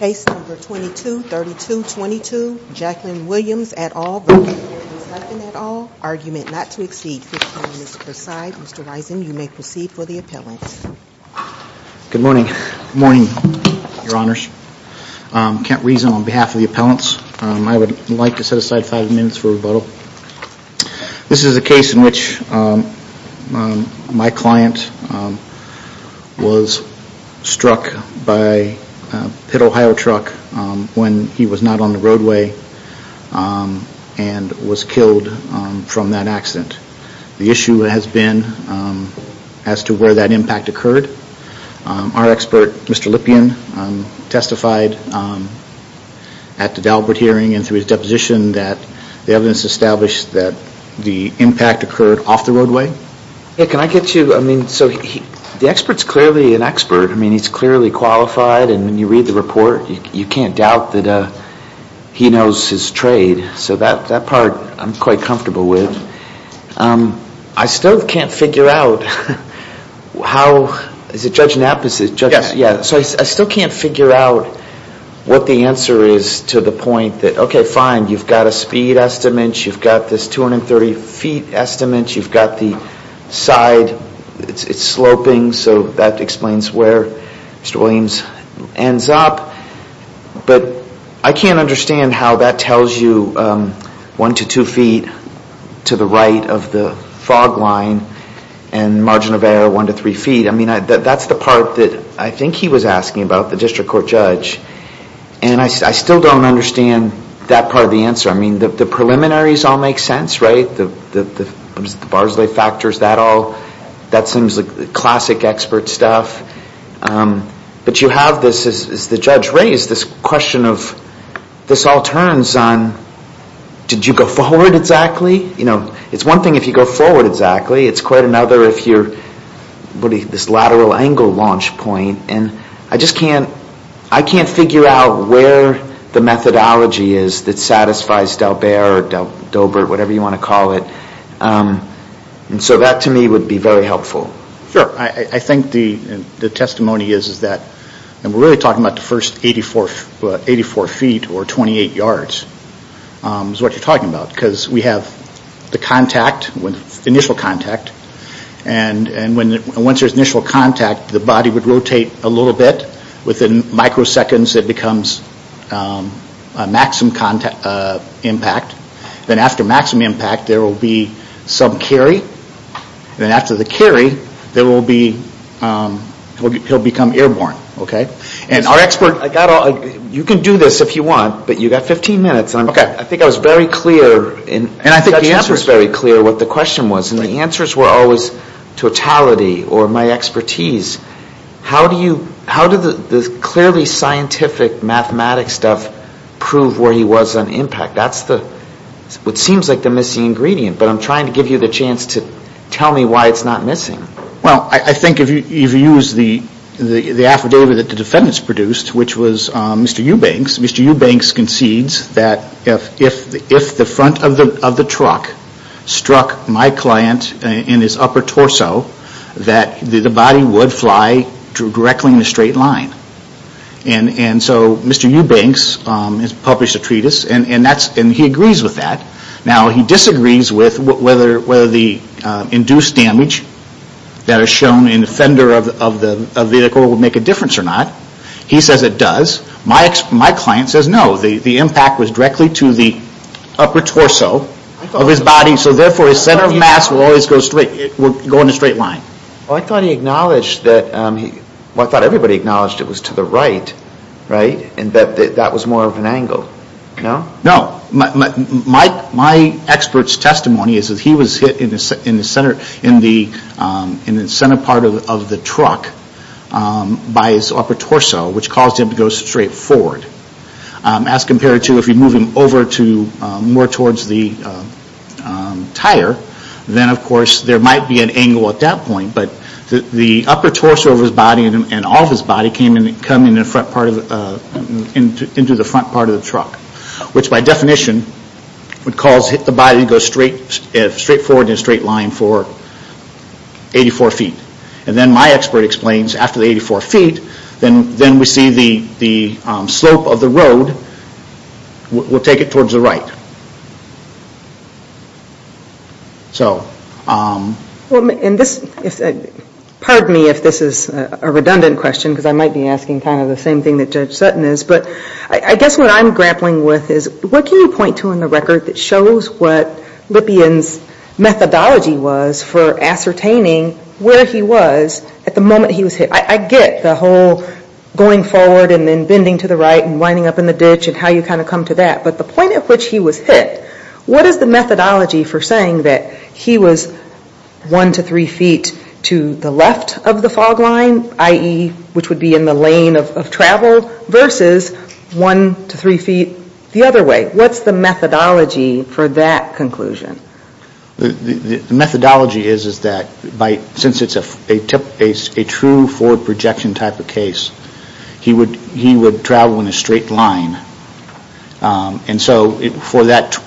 Case number 22-3222, Jacqueline Williams et al, argument not to exceed fifteen minutes per side. Mr. Wysen, you may proceed for the appellant. Good morning. Good morning, your honors. Kent Reason on behalf of the appellants. I would like to set aside five minutes for rebuttal. This is a case in which my client was struck by a Pitt, Ohio truck when he was not on the roadway and was killed from that accident. The issue has been as to where that impact occurred. Our expert, Mr. Lipien, testified at the Dalbert hearing and through his deposition that the evidence established that the impact occurred off the roadway. Yeah, can I get you, I mean, so the expert's clearly an expert. I mean, he's clearly qualified and when you read the report, you can't doubt that he knows his trade. So that part I'm quite comfortable with. I still can't figure out how, is it Judge Knapp? Yeah, so I still can't figure out what the answer is to the point that, okay, fine, you've got a speed estimate, you've got this 230 feet estimate, you've got the side, it's sloping, so that explains where Mr. Williams ends up. But I can't understand how that tells you one to two feet to the right of the fog line and margin of error one to three feet. I mean, that's the part that I think he was asking about, the district court judge, and I still don't understand that part of the answer. I mean, the preliminaries all make sense, right? The Barsley factors, that all, that seems like classic expert stuff. But you have this, as the judge raised, this question of, this all turns on, did you go forward exactly? You know, it's one thing if you go forward exactly, it's quite another if you're, this lateral angle launch point, and I just can't, I can't figure out where the methodology is that satisfies Delbert, whatever you want to call it. And so that to me would be very helpful. Sure, I think the testimony is that, and we're really talking about the first 84 feet, or 28 yards, is what you're talking about. Because we have the contact, initial contact, and once there's initial contact, the body would rotate a little bit, within microseconds it becomes a maximum impact. Then after maximum impact, there will be some carry, then after the carry, there will be, he'll become airborne, okay? And our expert, I got all, you can do this if you want, but you've got 15 minutes. Okay. I think I was very clear, and I think the answer is very clear what the question was, and the answers were always totality, or my expertise. How do you, how do the clearly scientific mathematics stuff prove where he was on impact? That's the, what seems like the missing ingredient, but I'm trying to give you the chance to tell me why it's not missing. Well, I think if you use the affidavit that the defendants produced, which was Mr. Eubanks, Mr. Eubanks concedes that if the front of the truck struck my client in his upper torso, that the body would fly directly in a straight line, and so Mr. Eubanks has published a treatise, and he agrees with that. Now, he disagrees with whether the induced damage that is shown in the fender of the vehicle would make a difference or not. He says it does. My client says no. The impact was directly to the upper torso of his body, so therefore his center of mass would always go straight, would go in a straight line. Well, I thought he acknowledged that, well, I thought everybody acknowledged it was to the right, right, and that that was more of an angle. No? No. My expert's testimony is that he was hit in the center part of the truck by his upper torso, which caused him to go straight forward. As compared to if you move him over to more towards the tire, then of course there might be an angle at that point, but the upper torso of his body and all of his body came into the front part of the truck, which by definition would cause the body to go straight forward in a straight line for 84 feet. Then my expert explains after the 84 feet, then we see the slope of the road, we'll take it towards the right. So. Pardon me if this is a redundant question, because I might be asking kind of the same thing that Judge Sutton is, but I guess what I'm grappling with is what can you point to in the record that shows what Lippian's methodology was for ascertaining where he was at the moment he was hit? I get the whole going forward and then bending to the right and winding up in the ditch and how you kind of come to that, but the point at which he was hit, what is the methodology for saying that he was one to three feet to the left of the fog line, i.e. which would be in the lane of travel, versus one to three feet the other way? What's the methodology for that conclusion? The methodology is that since it's a true forward projection type of case, he would travel in a straight line. And so for that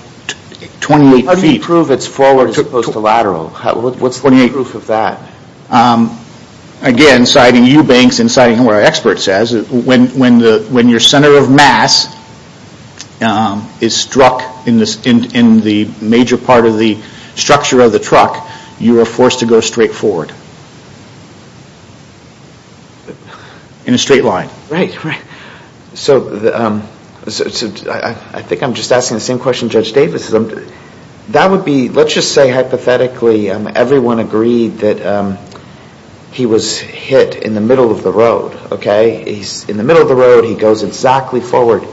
28 feet. How do you prove it's forward as opposed to lateral? What's the proof of that? Again, citing you, Banks, and citing what our expert says, when your center of mass is struck in the major part of the structure of the truck, you are forced to go straight forward. In a straight line. Right. So I think I'm just asking the same question Judge Davis. That would be, let's just say hypothetically everyone agreed that he was hit in the middle of the road. In the middle of the road he goes exactly forward.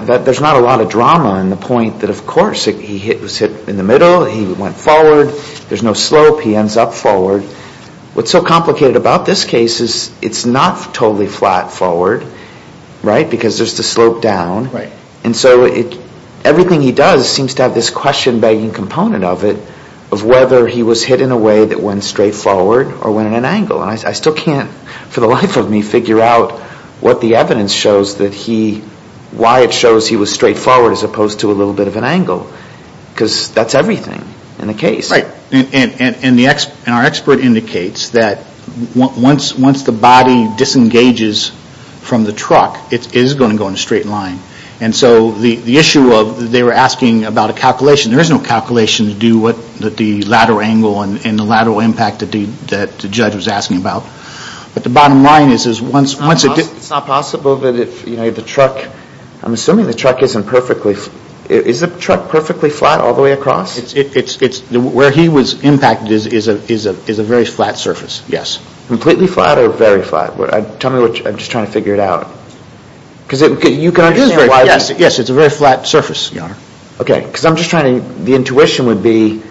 There's not a lot of drama in the point that of course he was hit in the middle, he went forward, there's no slope, he ends up forward. What's so complicated about this case is it's not totally flat forward, right? Because there's the slope down. And so everything he does seems to have this question begging component of it, of whether he was hit in a way that went straight forward or went at an angle. I still can't for the life of me figure out what the evidence shows that he, why it shows he was straight forward as opposed to a little bit of an angle. Because that's everything in the case. Right. And our expert indicates that once the body disengages from the truck, it is going to go in a straight line. And so the issue of, they were asking about a calculation. There is no calculation to do what the lateral angle and the lateral impact that the judge was asking about. But the bottom line is once it. It's not possible that if the truck, I'm assuming the truck isn't perfectly. Is the truck perfectly flat all the way across? Yes. Where he was impacted is a very flat surface, yes. Completely flat or very flat? Tell me, I'm just trying to figure it out. Because you can understand why. Yes, it's a very flat surface. Okay. Because I'm just trying to, the intuition would be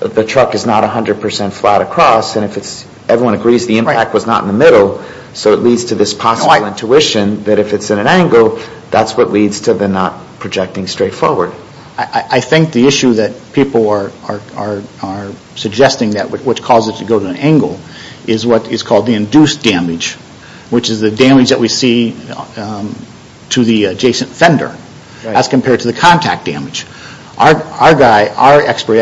the truck is not 100% flat across. And if it's, everyone agrees the impact was not in the middle. So it leads to this possible intuition that if it's at an angle, that's what leads to the not projecting straight forward. I think the issue that people are suggesting that which causes it to go to an angle. Is what is called the induced damage. Which is the damage that we see to the adjacent fender. As compared to the contact damage. Our guy, our expert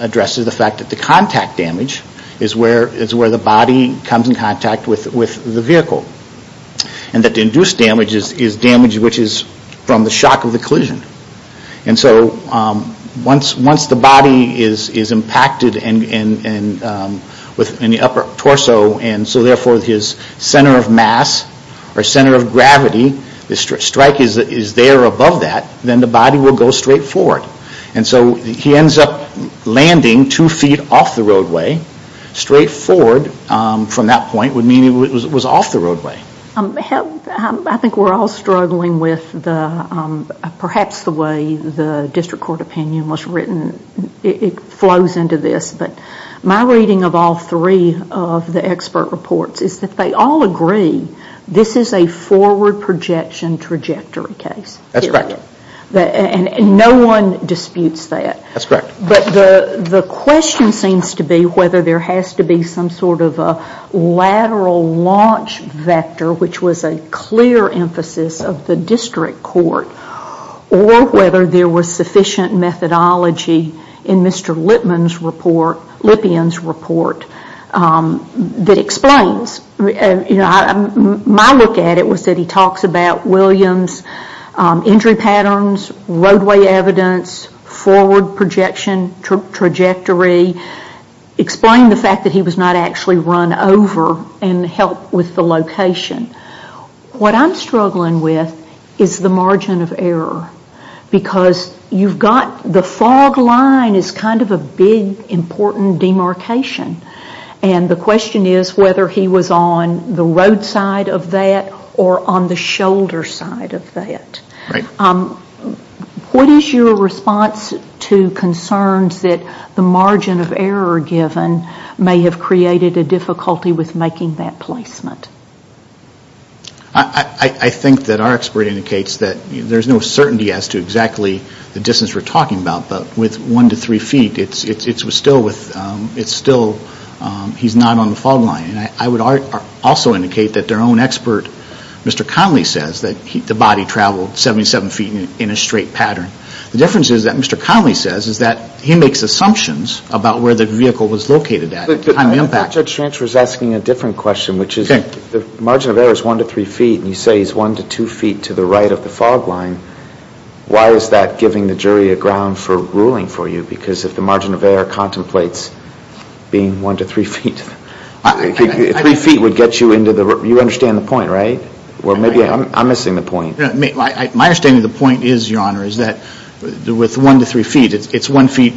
addresses the fact that the contact damage is where the body comes in contact with the vehicle. And that the induced damage is damage which is from the shock of the collision. And so once the body is impacted in the upper torso. And so therefore his center of mass or center of gravity, the strike is there above that. Then the body will go straight forward. And so he ends up landing two feet off the roadway. Straight forward from that point would mean he was off the roadway. I think we're all struggling with perhaps the way the district court opinion was written. It flows into this. But my reading of all three of the expert reports is that they all agree this is a forward projection trajectory case. That's correct. And no one disputes that. That's correct. But the question seems to be whether there has to be some sort of a lateral launch vector. Which was a clear emphasis of the district court. Or whether there was sufficient methodology in Mr. Lipien's report that explains. My look at it was that he talks about William's injury patterns, roadway evidence, forward projection trajectory. Explained the fact that he was not actually run over and helped with the location. What I'm struggling with is the margin of error. Because you've got the fog line is kind of a big important demarcation. And the question is whether he was on the roadside of that or on the shoulder side of that. Right. What is your response to concerns that the margin of error given may have created a difficulty with making that placement? I think that our expert indicates that there's no certainty as to exactly the distance we're talking about. But with one to three feet, it's still he's not on the fog line. And I would also indicate that their own expert, Mr. Conley, says that the body traveled 77 feet in a straight pattern. The difference is that Mr. Conley says is that he makes assumptions about where the vehicle was located at. I thought Judge Schranch was asking a different question. Which is the margin of error is one to three feet. And you say he's one to two feet to the right of the fog line. Why is that giving the jury a ground for ruling for you? Because if the margin of error contemplates being one to three feet. Three feet would get you into the, you understand the point, right? Or maybe I'm missing the point. My understanding of the point is, Your Honor, is that with one to three feet, it's one feet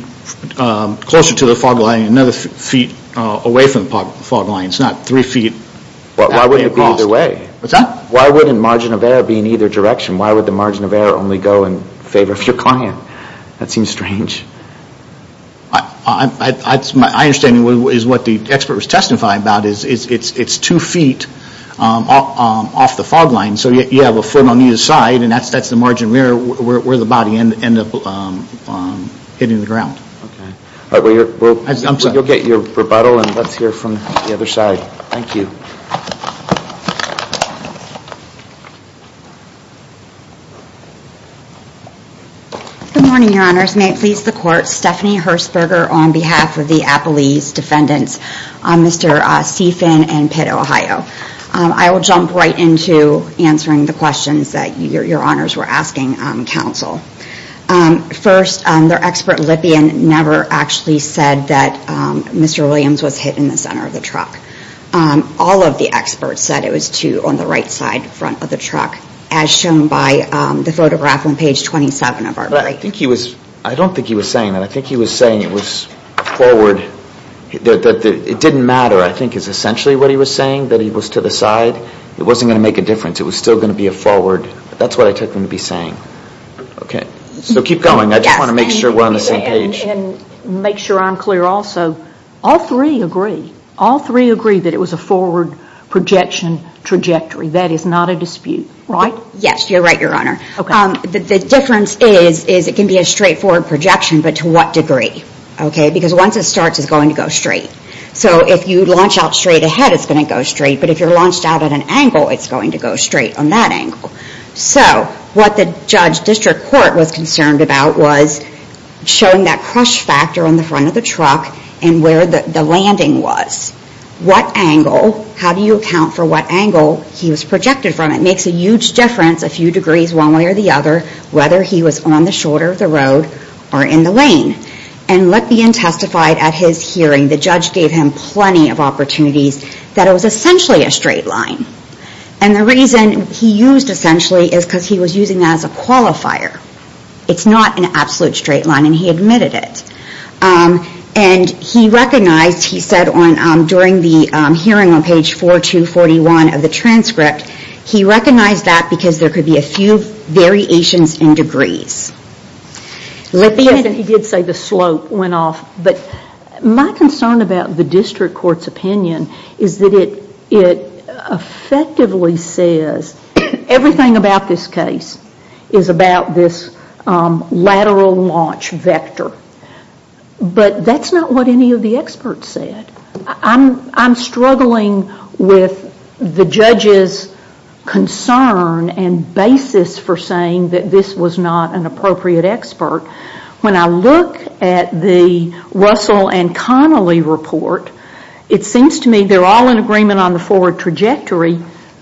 closer to the fog line. Another feet away from the fog line. It's not three feet. Why wouldn't it be either way? Why wouldn't margin of error be in either direction? Why would the margin of error only go in favor of your client? That seems strange. My understanding is what the expert was testifying about is it's two feet off the fog line. So you have a foot on either side and that's the margin where the body ended up hitting the ground. Okay. You'll get your rebuttal and let's hear from the other side. Thank you. Good morning, Your Honors. May it please the Court. Stephanie Hersberger on behalf of the Appalese Defendants, Mr. Seafin and Pitt, Ohio. I will jump right into answering the questions that Your Honors were asking counsel. First, their expert, Lippian, never actually said that Mr. Williams was hit in the center of the truck. All of the experts said it was two on the right side front of the truck, as shown by the photograph on page 27 of our brief. I don't think he was saying that. I think he was saying it was forward. It didn't matter, I think, is essentially what he was saying, that he was to the side. It wasn't going to make a difference. It was still going to be a forward. That's what I took him to be saying. Okay. So keep going. I just want to make sure we're on the same page. And make sure I'm clear also. All three agree. All three agree that it was a forward projection trajectory. That is not a dispute. Right? Yes, you're right, Your Honor. Okay. The difference is it can be a straightforward projection, but to what degree? Okay, because once it starts, it's going to go straight. So if you launch out straight ahead, it's going to go straight. But if you're launched out at an angle, it's going to go straight on that angle. So what the judge district court was concerned about was showing that crush factor on the front of the truck and where the landing was. What angle, how do you account for what angle he was projected from? It makes a huge difference, a few degrees one way or the other, whether he was on the shoulder of the road or in the lane. And let be untestified at his hearing, the judge gave him plenty of opportunities that it was essentially a straight line. And the reason he used essentially is because he was using that as a qualifier. It's not an absolute straight line, and he admitted it. And he recognized, he said during the hearing on page 4241 of the transcript, he recognized that because there could be a few variations in degrees. He did say the slope went off, but my concern about the district court's opinion is that it effectively says everything about this case is about this lateral launch vector. But that's not what any of the experts said. I'm struggling with the judge's concern and basis for saying that this was not an appropriate expert. When I look at the Russell and Connolly report, it seems to me they're all in agreement on the forward trajectory,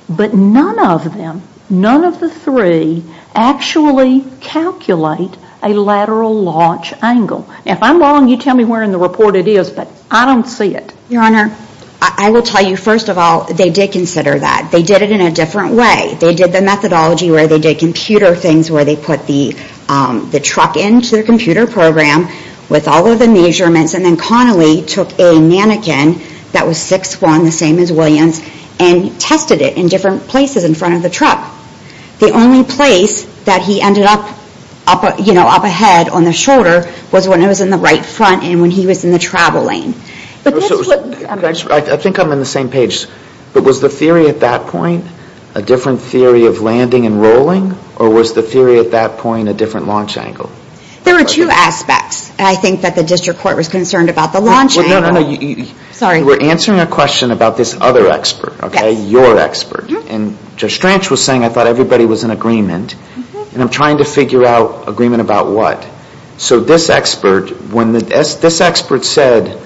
but none of them, none of the three actually calculate a lateral launch angle. If I'm wrong, you tell me where in the report it is, but I don't see it. Your Honor, I will tell you first of all, they did consider that. They did it in a different way. They did the methodology where they did computer things, where they put the truck into the computer program with all of the measurements, and then Connolly took a mannequin that was 6'1", the same as Williams, and tested it in different places in front of the truck. The only place that he ended up up ahead on the shoulder was when it was in the right front and when he was in the travel lane. I think I'm on the same page. But was the theory at that point a different theory of landing and rolling, or was the theory at that point a different launch angle? There were two aspects. I think that the district court was concerned about the launch angle. No, no, no. Sorry. You were answering a question about this other expert, okay, your expert. And Judge Strange was saying, I thought everybody was in agreement, and I'm trying to figure out agreement about what. So this expert, when this expert said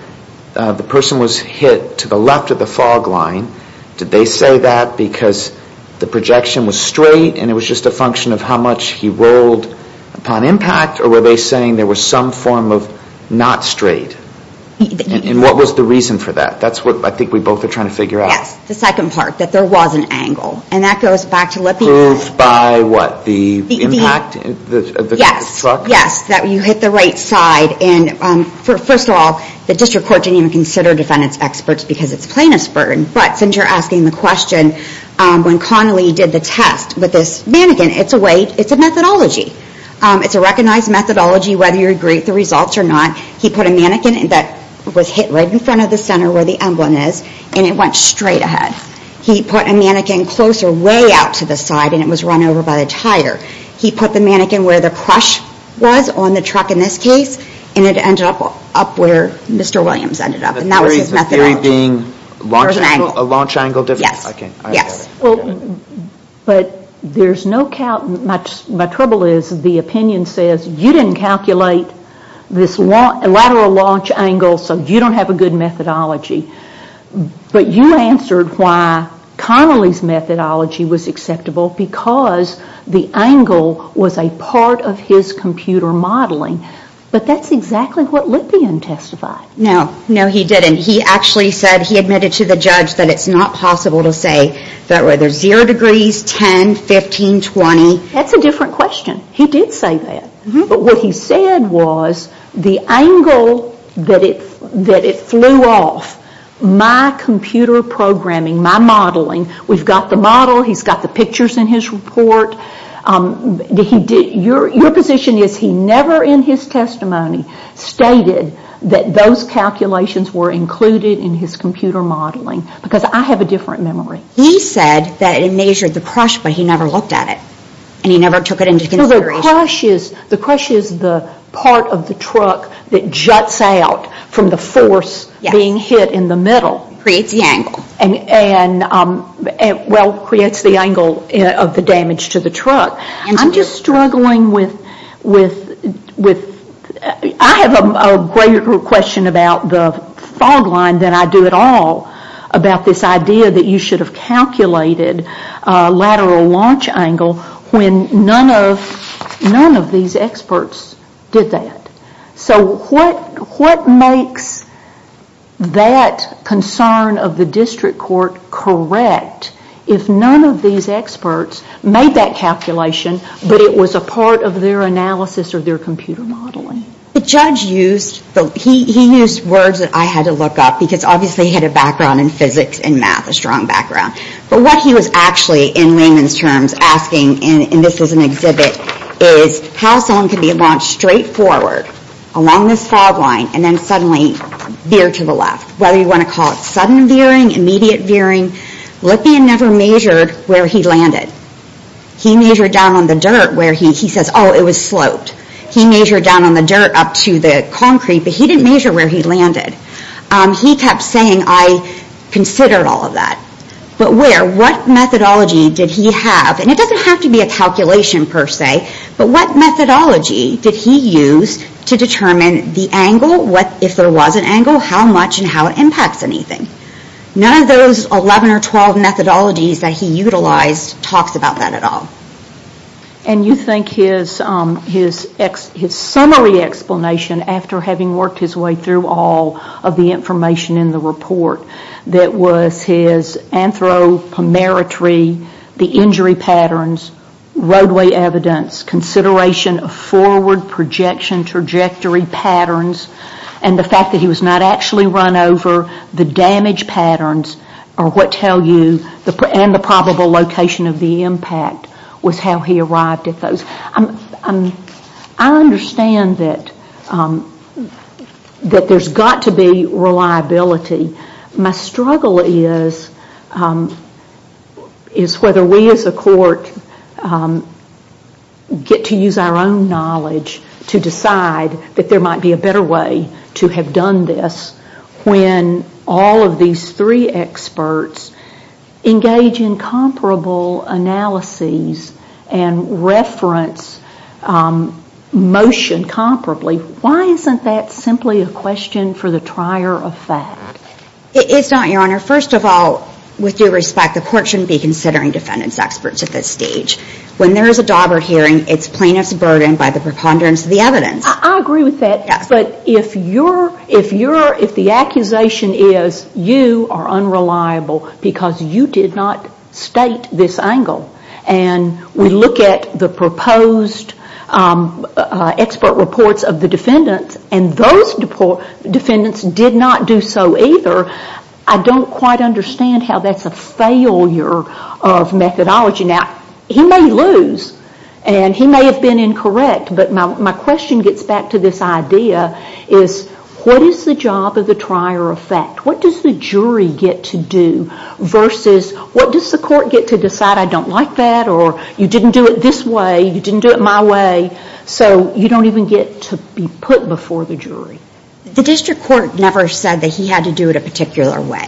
the person was hit to the left of the fog line, did they say that because the projection was straight and it was just a function of how much he rolled upon impact, or were they saying there was some form of not straight? And what was the reason for that? That's what I think we both are trying to figure out. Yes, the second part, that there was an angle. And that goes back to what we said. Proved by what, the impact of the truck? Yes, that you hit the right side. And first of all, the district court didn't even consider defendants experts because it's plaintiff's burden. But since you're asking the question, when Connolly did the test with this mannequin, it's a methodology. It's a recognized methodology, whether you agree with the results or not. He put a mannequin that was hit right in front of the center where the emblem is, and it went straight ahead. He put a mannequin closer, way out to the side, and it was run over by the tire. He put the mannequin where the crush was on the truck in this case, and it ended up where Mr. Williams ended up. And that was his methodology. The theory being a launch angle difference? Yes. Okay. Yes. But there's no count. My trouble is, the opinion says, you didn't calculate this lateral launch angle, so you don't have a good methodology. But you answered why Connolly's methodology was acceptable, because the angle was a part of his computer modeling. But that's exactly what Lippian testified. No. No, he didn't. He actually said he admitted to the judge that it's not possible to say that whether 0 degrees, 10, 15, 20. That's a different question. He did say that. But what he said was the angle that it flew off, my computer programming, my modeling, we've got the model, he's got the pictures in his report. Your position is he never in his testimony stated that those calculations were included in his computer modeling. Because I have a different memory. He said that it measured the crush, but he never looked at it. And he never took it into consideration. The crush is the part of the truck that juts out from the force being hit in the middle. Creates the angle. Well, creates the angle of the damage to the truck. I'm just struggling with... I have a greater question about the fog line than I do at all about this idea that you should have calculated lateral launch angle when none of these experts did that. So what makes that concern of the district court correct if none of these experts made that calculation, but it was a part of their analysis or their computer modeling? The judge used... He used words that I had to look up because obviously he had a background in physics and math, a strong background. But what he was actually, in layman's terms, asking, and this was an exhibit, is how someone can be launched straight forward along this fog line and then suddenly veer to the left. Whether you want to call it sudden veering, immediate veering. Lipien never measured where he landed. He measured down on the dirt where he... He says, oh, it was sloped. He measured down on the dirt up to the concrete, but he didn't measure where he landed. He kept saying, I considered all of that. But where? What methodology did he have? And it doesn't have to be a calculation per se, but what methodology did he use to determine the angle, if there was an angle, how much and how it impacts anything? None of those 11 or 12 methodologies that he utilized talks about that at all. And you think his summary explanation, after having worked his way through all of the information in the report, that was his anthropometry, the injury patterns, roadway evidence, consideration of forward projection trajectory patterns, and the fact that he was not actually run over. The damage patterns are what tell you, and the probable location of the impact was how he arrived at those. I understand that there's got to be reliability. My struggle is whether we as a court get to use our own knowledge to decide that there might be a better way to have done this when all of these three experts engage in comparable analyses and reference motion comparably. Why isn't that simply a question for the trier of fact? It's not, Your Honor. First of all, with due respect, the court shouldn't be considering defendant's experts at this stage. When there is a Daubert hearing, it's plaintiff's burden by the preponderance of the evidence. I agree with that. Yes. But if the accusation is you are unreliable because you did not state this angle and we look at the proposed expert reports of the defendants and those defendants did not do so either, I don't quite understand how that's a failure of methodology. Now, he may lose and he may have been incorrect, but my question gets back to this idea is what is the job of the trier of fact? What does the jury get to do versus what does the court get to decide I don't like that or you didn't do it this way, you didn't do it my way, so you don't even get to be put before the jury? The district court never said that he had to do it a particular way.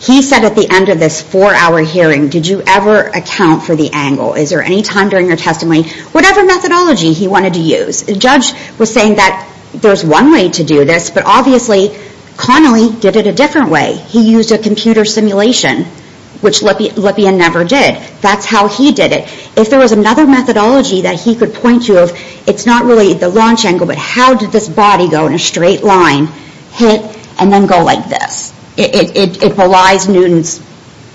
He said at the end of this four-hour hearing, did you ever account for the angle? Is there any time during your testimony? Whatever methodology he wanted to use. The judge was saying that there's one way to do this, but obviously Connolly did it a different way. He used a computer simulation, which Lippian never did. That's how he did it. If there was another methodology that he could point to, it's not really the launch angle, but how did this body go in a straight line, hit, and then go like this? It belies Newton's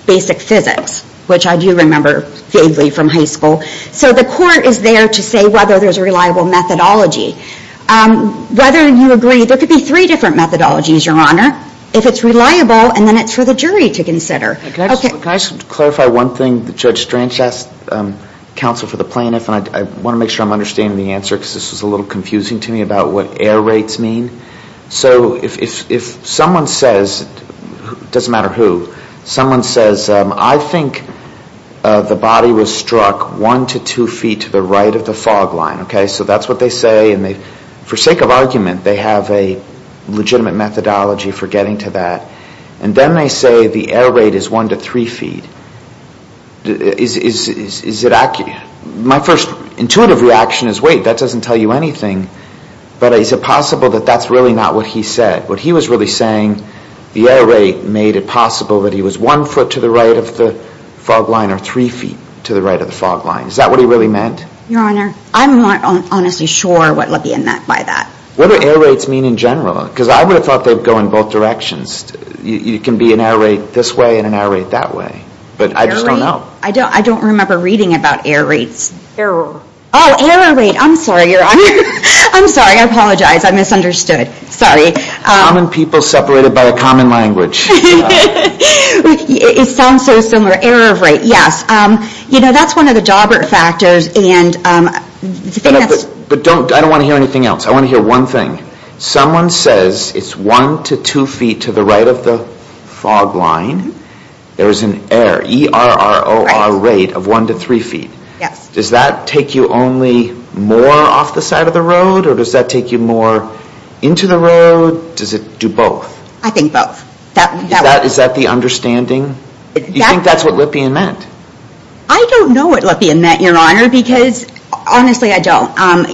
basic physics, which I do remember vaguely from high school. So the court is there to say whether there's a reliable methodology. Whether you agree, there could be three different methodologies, Your Honor. If it's reliable, then it's for the jury to consider. Can I clarify one thing that Judge Strange asked counsel for the plaintiff? I want to make sure I'm understanding the answer because this is a little confusing to me about what error rates mean. So if someone says, it doesn't matter who, someone says, I think the body was struck one to two feet to the right of the fog line. So that's what they say. For sake of argument, they have a legitimate methodology for getting to that. And then they say the error rate is one to three feet. My first intuitive reaction is, wait, that doesn't tell you anything. But is it possible that that's really not what he said? What he was really saying, the error rate made it possible that he was one foot to the right of the fog line or three feet to the right of the fog line. Is that what he really meant? Your Honor, I'm not honestly sure what he meant by that. What do error rates mean in general? Because I would have thought they would go in both directions. It can be an error rate this way and an error rate that way. But I just don't know. Error rate? I don't remember reading about error rates. Error. Oh, error rate. I'm sorry, Your Honor. I'm sorry. I apologize. I misunderstood. Sorry. Common people separated by a common language. It sounds so similar. Error rate, yes. You know, that's one of the Daubert factors. But I don't want to hear anything else. I want to hear one thing. Someone says it's one to two feet to the right of the fog line. There's an error, E-R-R-O-R rate of one to three feet. Yes. Does that take you only more off the side of the road or does that take you more into the road? Does it do both? I think both. Is that the understanding? Do you think that's what Lippian meant? I don't know what Lippian meant, Your Honor, because honestly, I don't.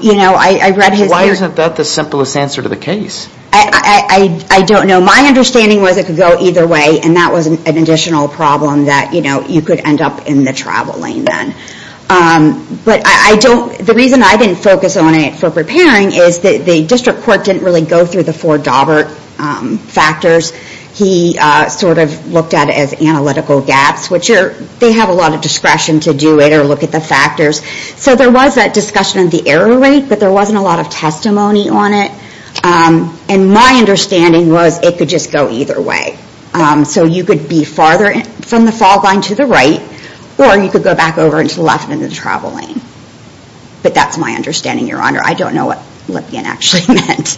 You know, I read his... Why isn't that the simplest answer to the case? I don't know. My understanding was it could go either way and that was an additional problem that, you know, you could end up in the travel lane then. But I don't... The reason I didn't focus on it for preparing is the district court didn't really go through the four Daubert factors. He sort of looked at it as analytical gaps, which they have a lot of discretion to do it or look at the factors. So there was that discussion of the error rate, but there wasn't a lot of testimony on it. And my understanding was it could just go either way. So you could be farther from the fog line to the right or you could go back over into the left end of the travel lane. But that's my understanding, Your Honor. I don't know what Lippian actually meant.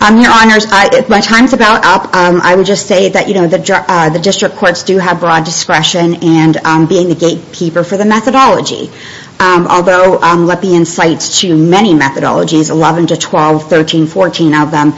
Your Honors, my time's about up. I would just say that, you know, the district courts do have broad discretion and being the gatekeeper for the methodology. Although Lippian cites too many methodologies, 11 to 12, 13, 14 of them.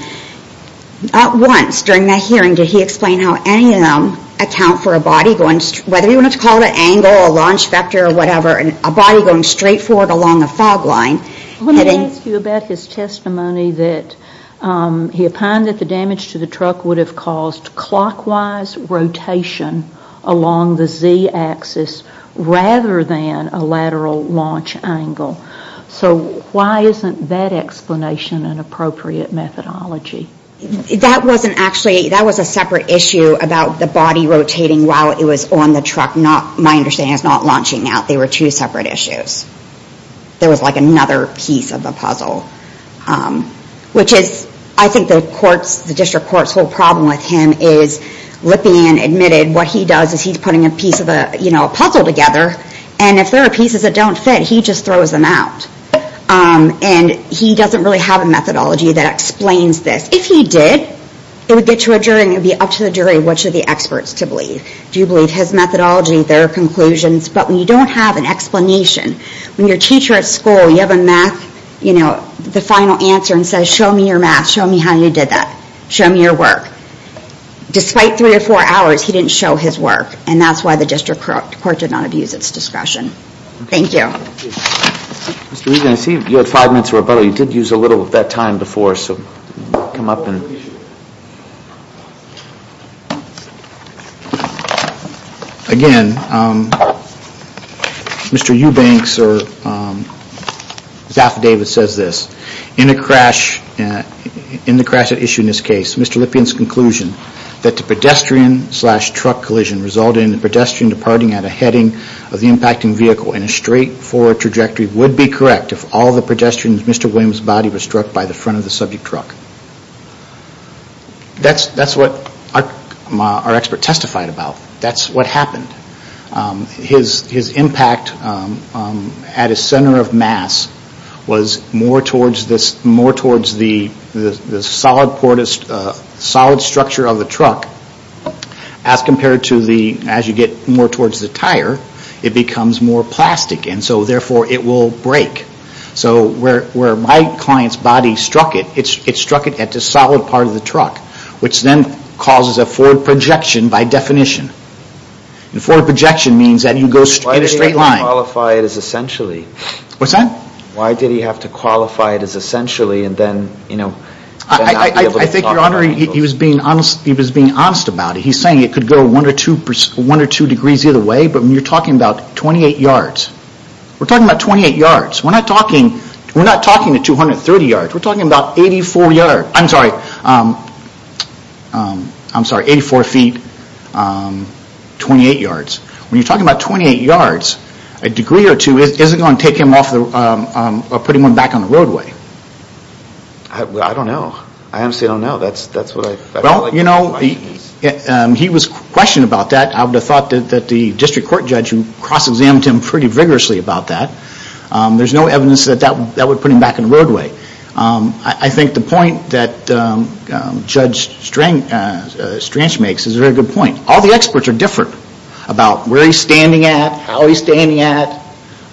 Not once during that hearing did he explain how any of them account for a body going... Whether you want to call it an angle, a launch vector or whatever, a body going straight forward along a fog line. Let me ask you about his testimony that he opined that the damage to the truck would have caused clockwise rotation along the Z axis rather than a lateral launch angle. So why isn't that explanation an appropriate methodology? That wasn't actually... That was a separate issue about the body rotating while it was on the truck. My understanding is not launching out. They were two separate issues. There was like another piece of the puzzle. Which is, I think the courts, the district court's whole problem with him is Lippian admitted what he does is he's putting a piece of a puzzle together and if there are pieces that don't fit, he just throws them out. And he doesn't really have a methodology that explains this. If he did, it would get to a jury and it would be up to the jury which of the experts to believe. Do you believe his methodology, their conclusions? But when you don't have an explanation, when your teacher at school, you have a math, you know, the final answer and says, show me your math, show me how you did that. Show me your work. Despite three or four hours, he didn't show his work. And that's why the district court did not abuse its discretion. Thank you. Mr. Regan, I see you had five minutes to rebuttal. You did use a little of that time before, so come up and... Again, Mr. Eubanks or Zaffer Davis says this. In the crash that issued in this case, Mr. Lippian's conclusion that the pedestrian slash truck collision resulted in the pedestrian departing at a heading of the impacting vehicle in a straight forward trajectory would be correct if all the pedestrians in Mr. Williams' body were struck by the front of the subject truck. That's what our expert testified about. That's what happened. His impact at his center of mass was more towards the solid structure of the truck as compared to the, as you get more towards the tire, it becomes more plastic and so therefore it will break. So where my client's body struck it, it struck it at the solid part of the truck, which then causes a forward projection by definition. Forward projection means that you go in a straight line. Why did he have to qualify it as essentially? What's that? Why did he have to qualify it as essentially and then not be able to talk about it? I think, Your Honor, he was being honest about it. He's saying it could go one or two degrees either way, but you're talking about 28 yards. We're talking about 28 yards. We're not talking to 230 yards. We're talking about 84 yards. I'm sorry. I'm sorry, 84 feet, 28 yards. When you're talking about 28 yards, a degree or two isn't going to take him off or put him back on the roadway. I don't know. I honestly don't know. Well, you know, he was questioning about that. I would have thought that the district court judge who cross-examined him pretty vigorously about that, there's no evidence that would put him back on the roadway. I think the point that Judge Strange makes is a very good point. All the experts are different about where he's standing at, how he's standing at,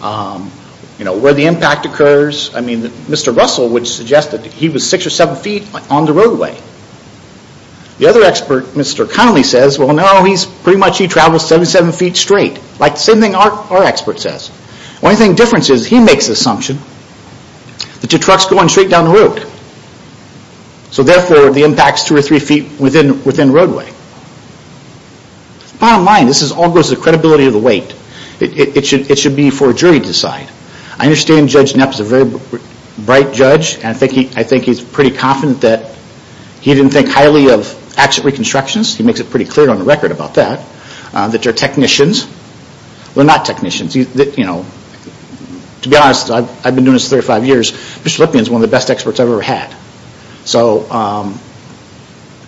where the impact occurs. I mean, Mr. Russell would suggest that he was six or seven feet on the roadway. The other expert, Mr. Connelly, says, well, no, pretty much he traveled 77 feet straight, like the same thing our expert says. The only difference is he makes the assumption that your truck's going straight down the road, so therefore the impact's two or three feet within roadway. Bottom line, this all goes to the credibility of the weight. It should be for a jury to decide. I understand Judge Knapp is a very bright judge, and I think he's pretty confident that he didn't think highly of accident reconstructions. He makes it pretty clear on the record about that, that they're technicians. They're not technicians. To be honest, I've been doing this 35 years. Mr. Lipman's one of the best experts I've ever had.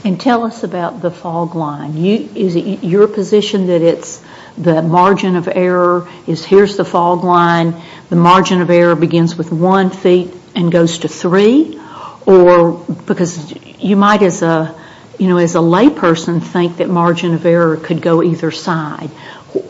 And tell us about the fog line. Is it your position that it's the margin of error? Here's the fog line. The margin of error begins with one feet and goes to three? Because you might, as a layperson, think that margin of error could go either side.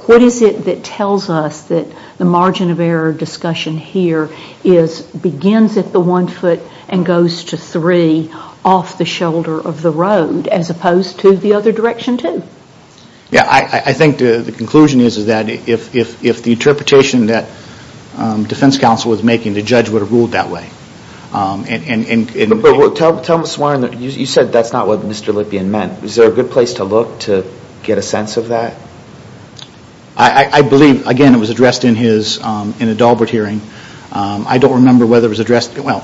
What is it that tells us that the margin of error discussion here begins at the one foot and goes to three off the shoulder of the road as opposed to the other direction too? I think the conclusion is that if the interpretation that defense counsel was making, the judge would have ruled that way. Tell me, you said that's not what Mr. Lipman meant. Is there a good place to look to get a sense of that? I believe, again, it was addressed in a Dahlbert hearing. I don't remember whether it was addressed, well,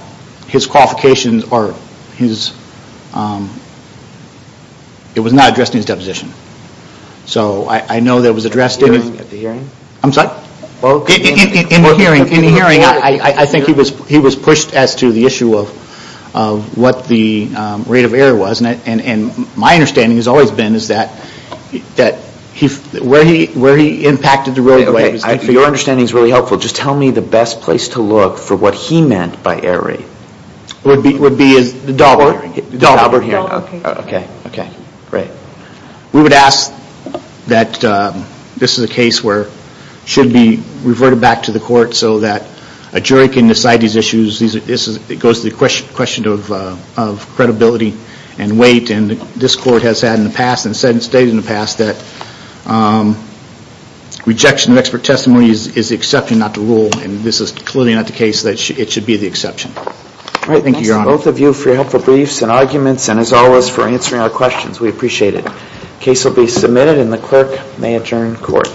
his qualifications or his... It was not addressed in his deposition. So I know that it was addressed in... At the hearing? I'm sorry? In the hearing. In the hearing, I think he was pushed as to the issue of what the rate of error was. And my understanding has always been that where he impacted the roadway... Okay, your understanding is really helpful. Just tell me the best place to look for what he meant by error rate. Would be the Dahlbert hearing. Okay, great. We would ask that this is a case where it should be reverted back to the court so that a jury can decide these issues. It goes to the question of credibility and weight, and this court has had in the past, and has stated in the past, that rejection of expert testimony is the exception, not the rule. And this is clearly not the case that it should be the exception. All right, thank you, Your Honor. Thank you, both of you, for your helpful briefs and arguments, and as always, for answering our questions. We appreciate it. The case will be submitted, and the clerk may adjourn court.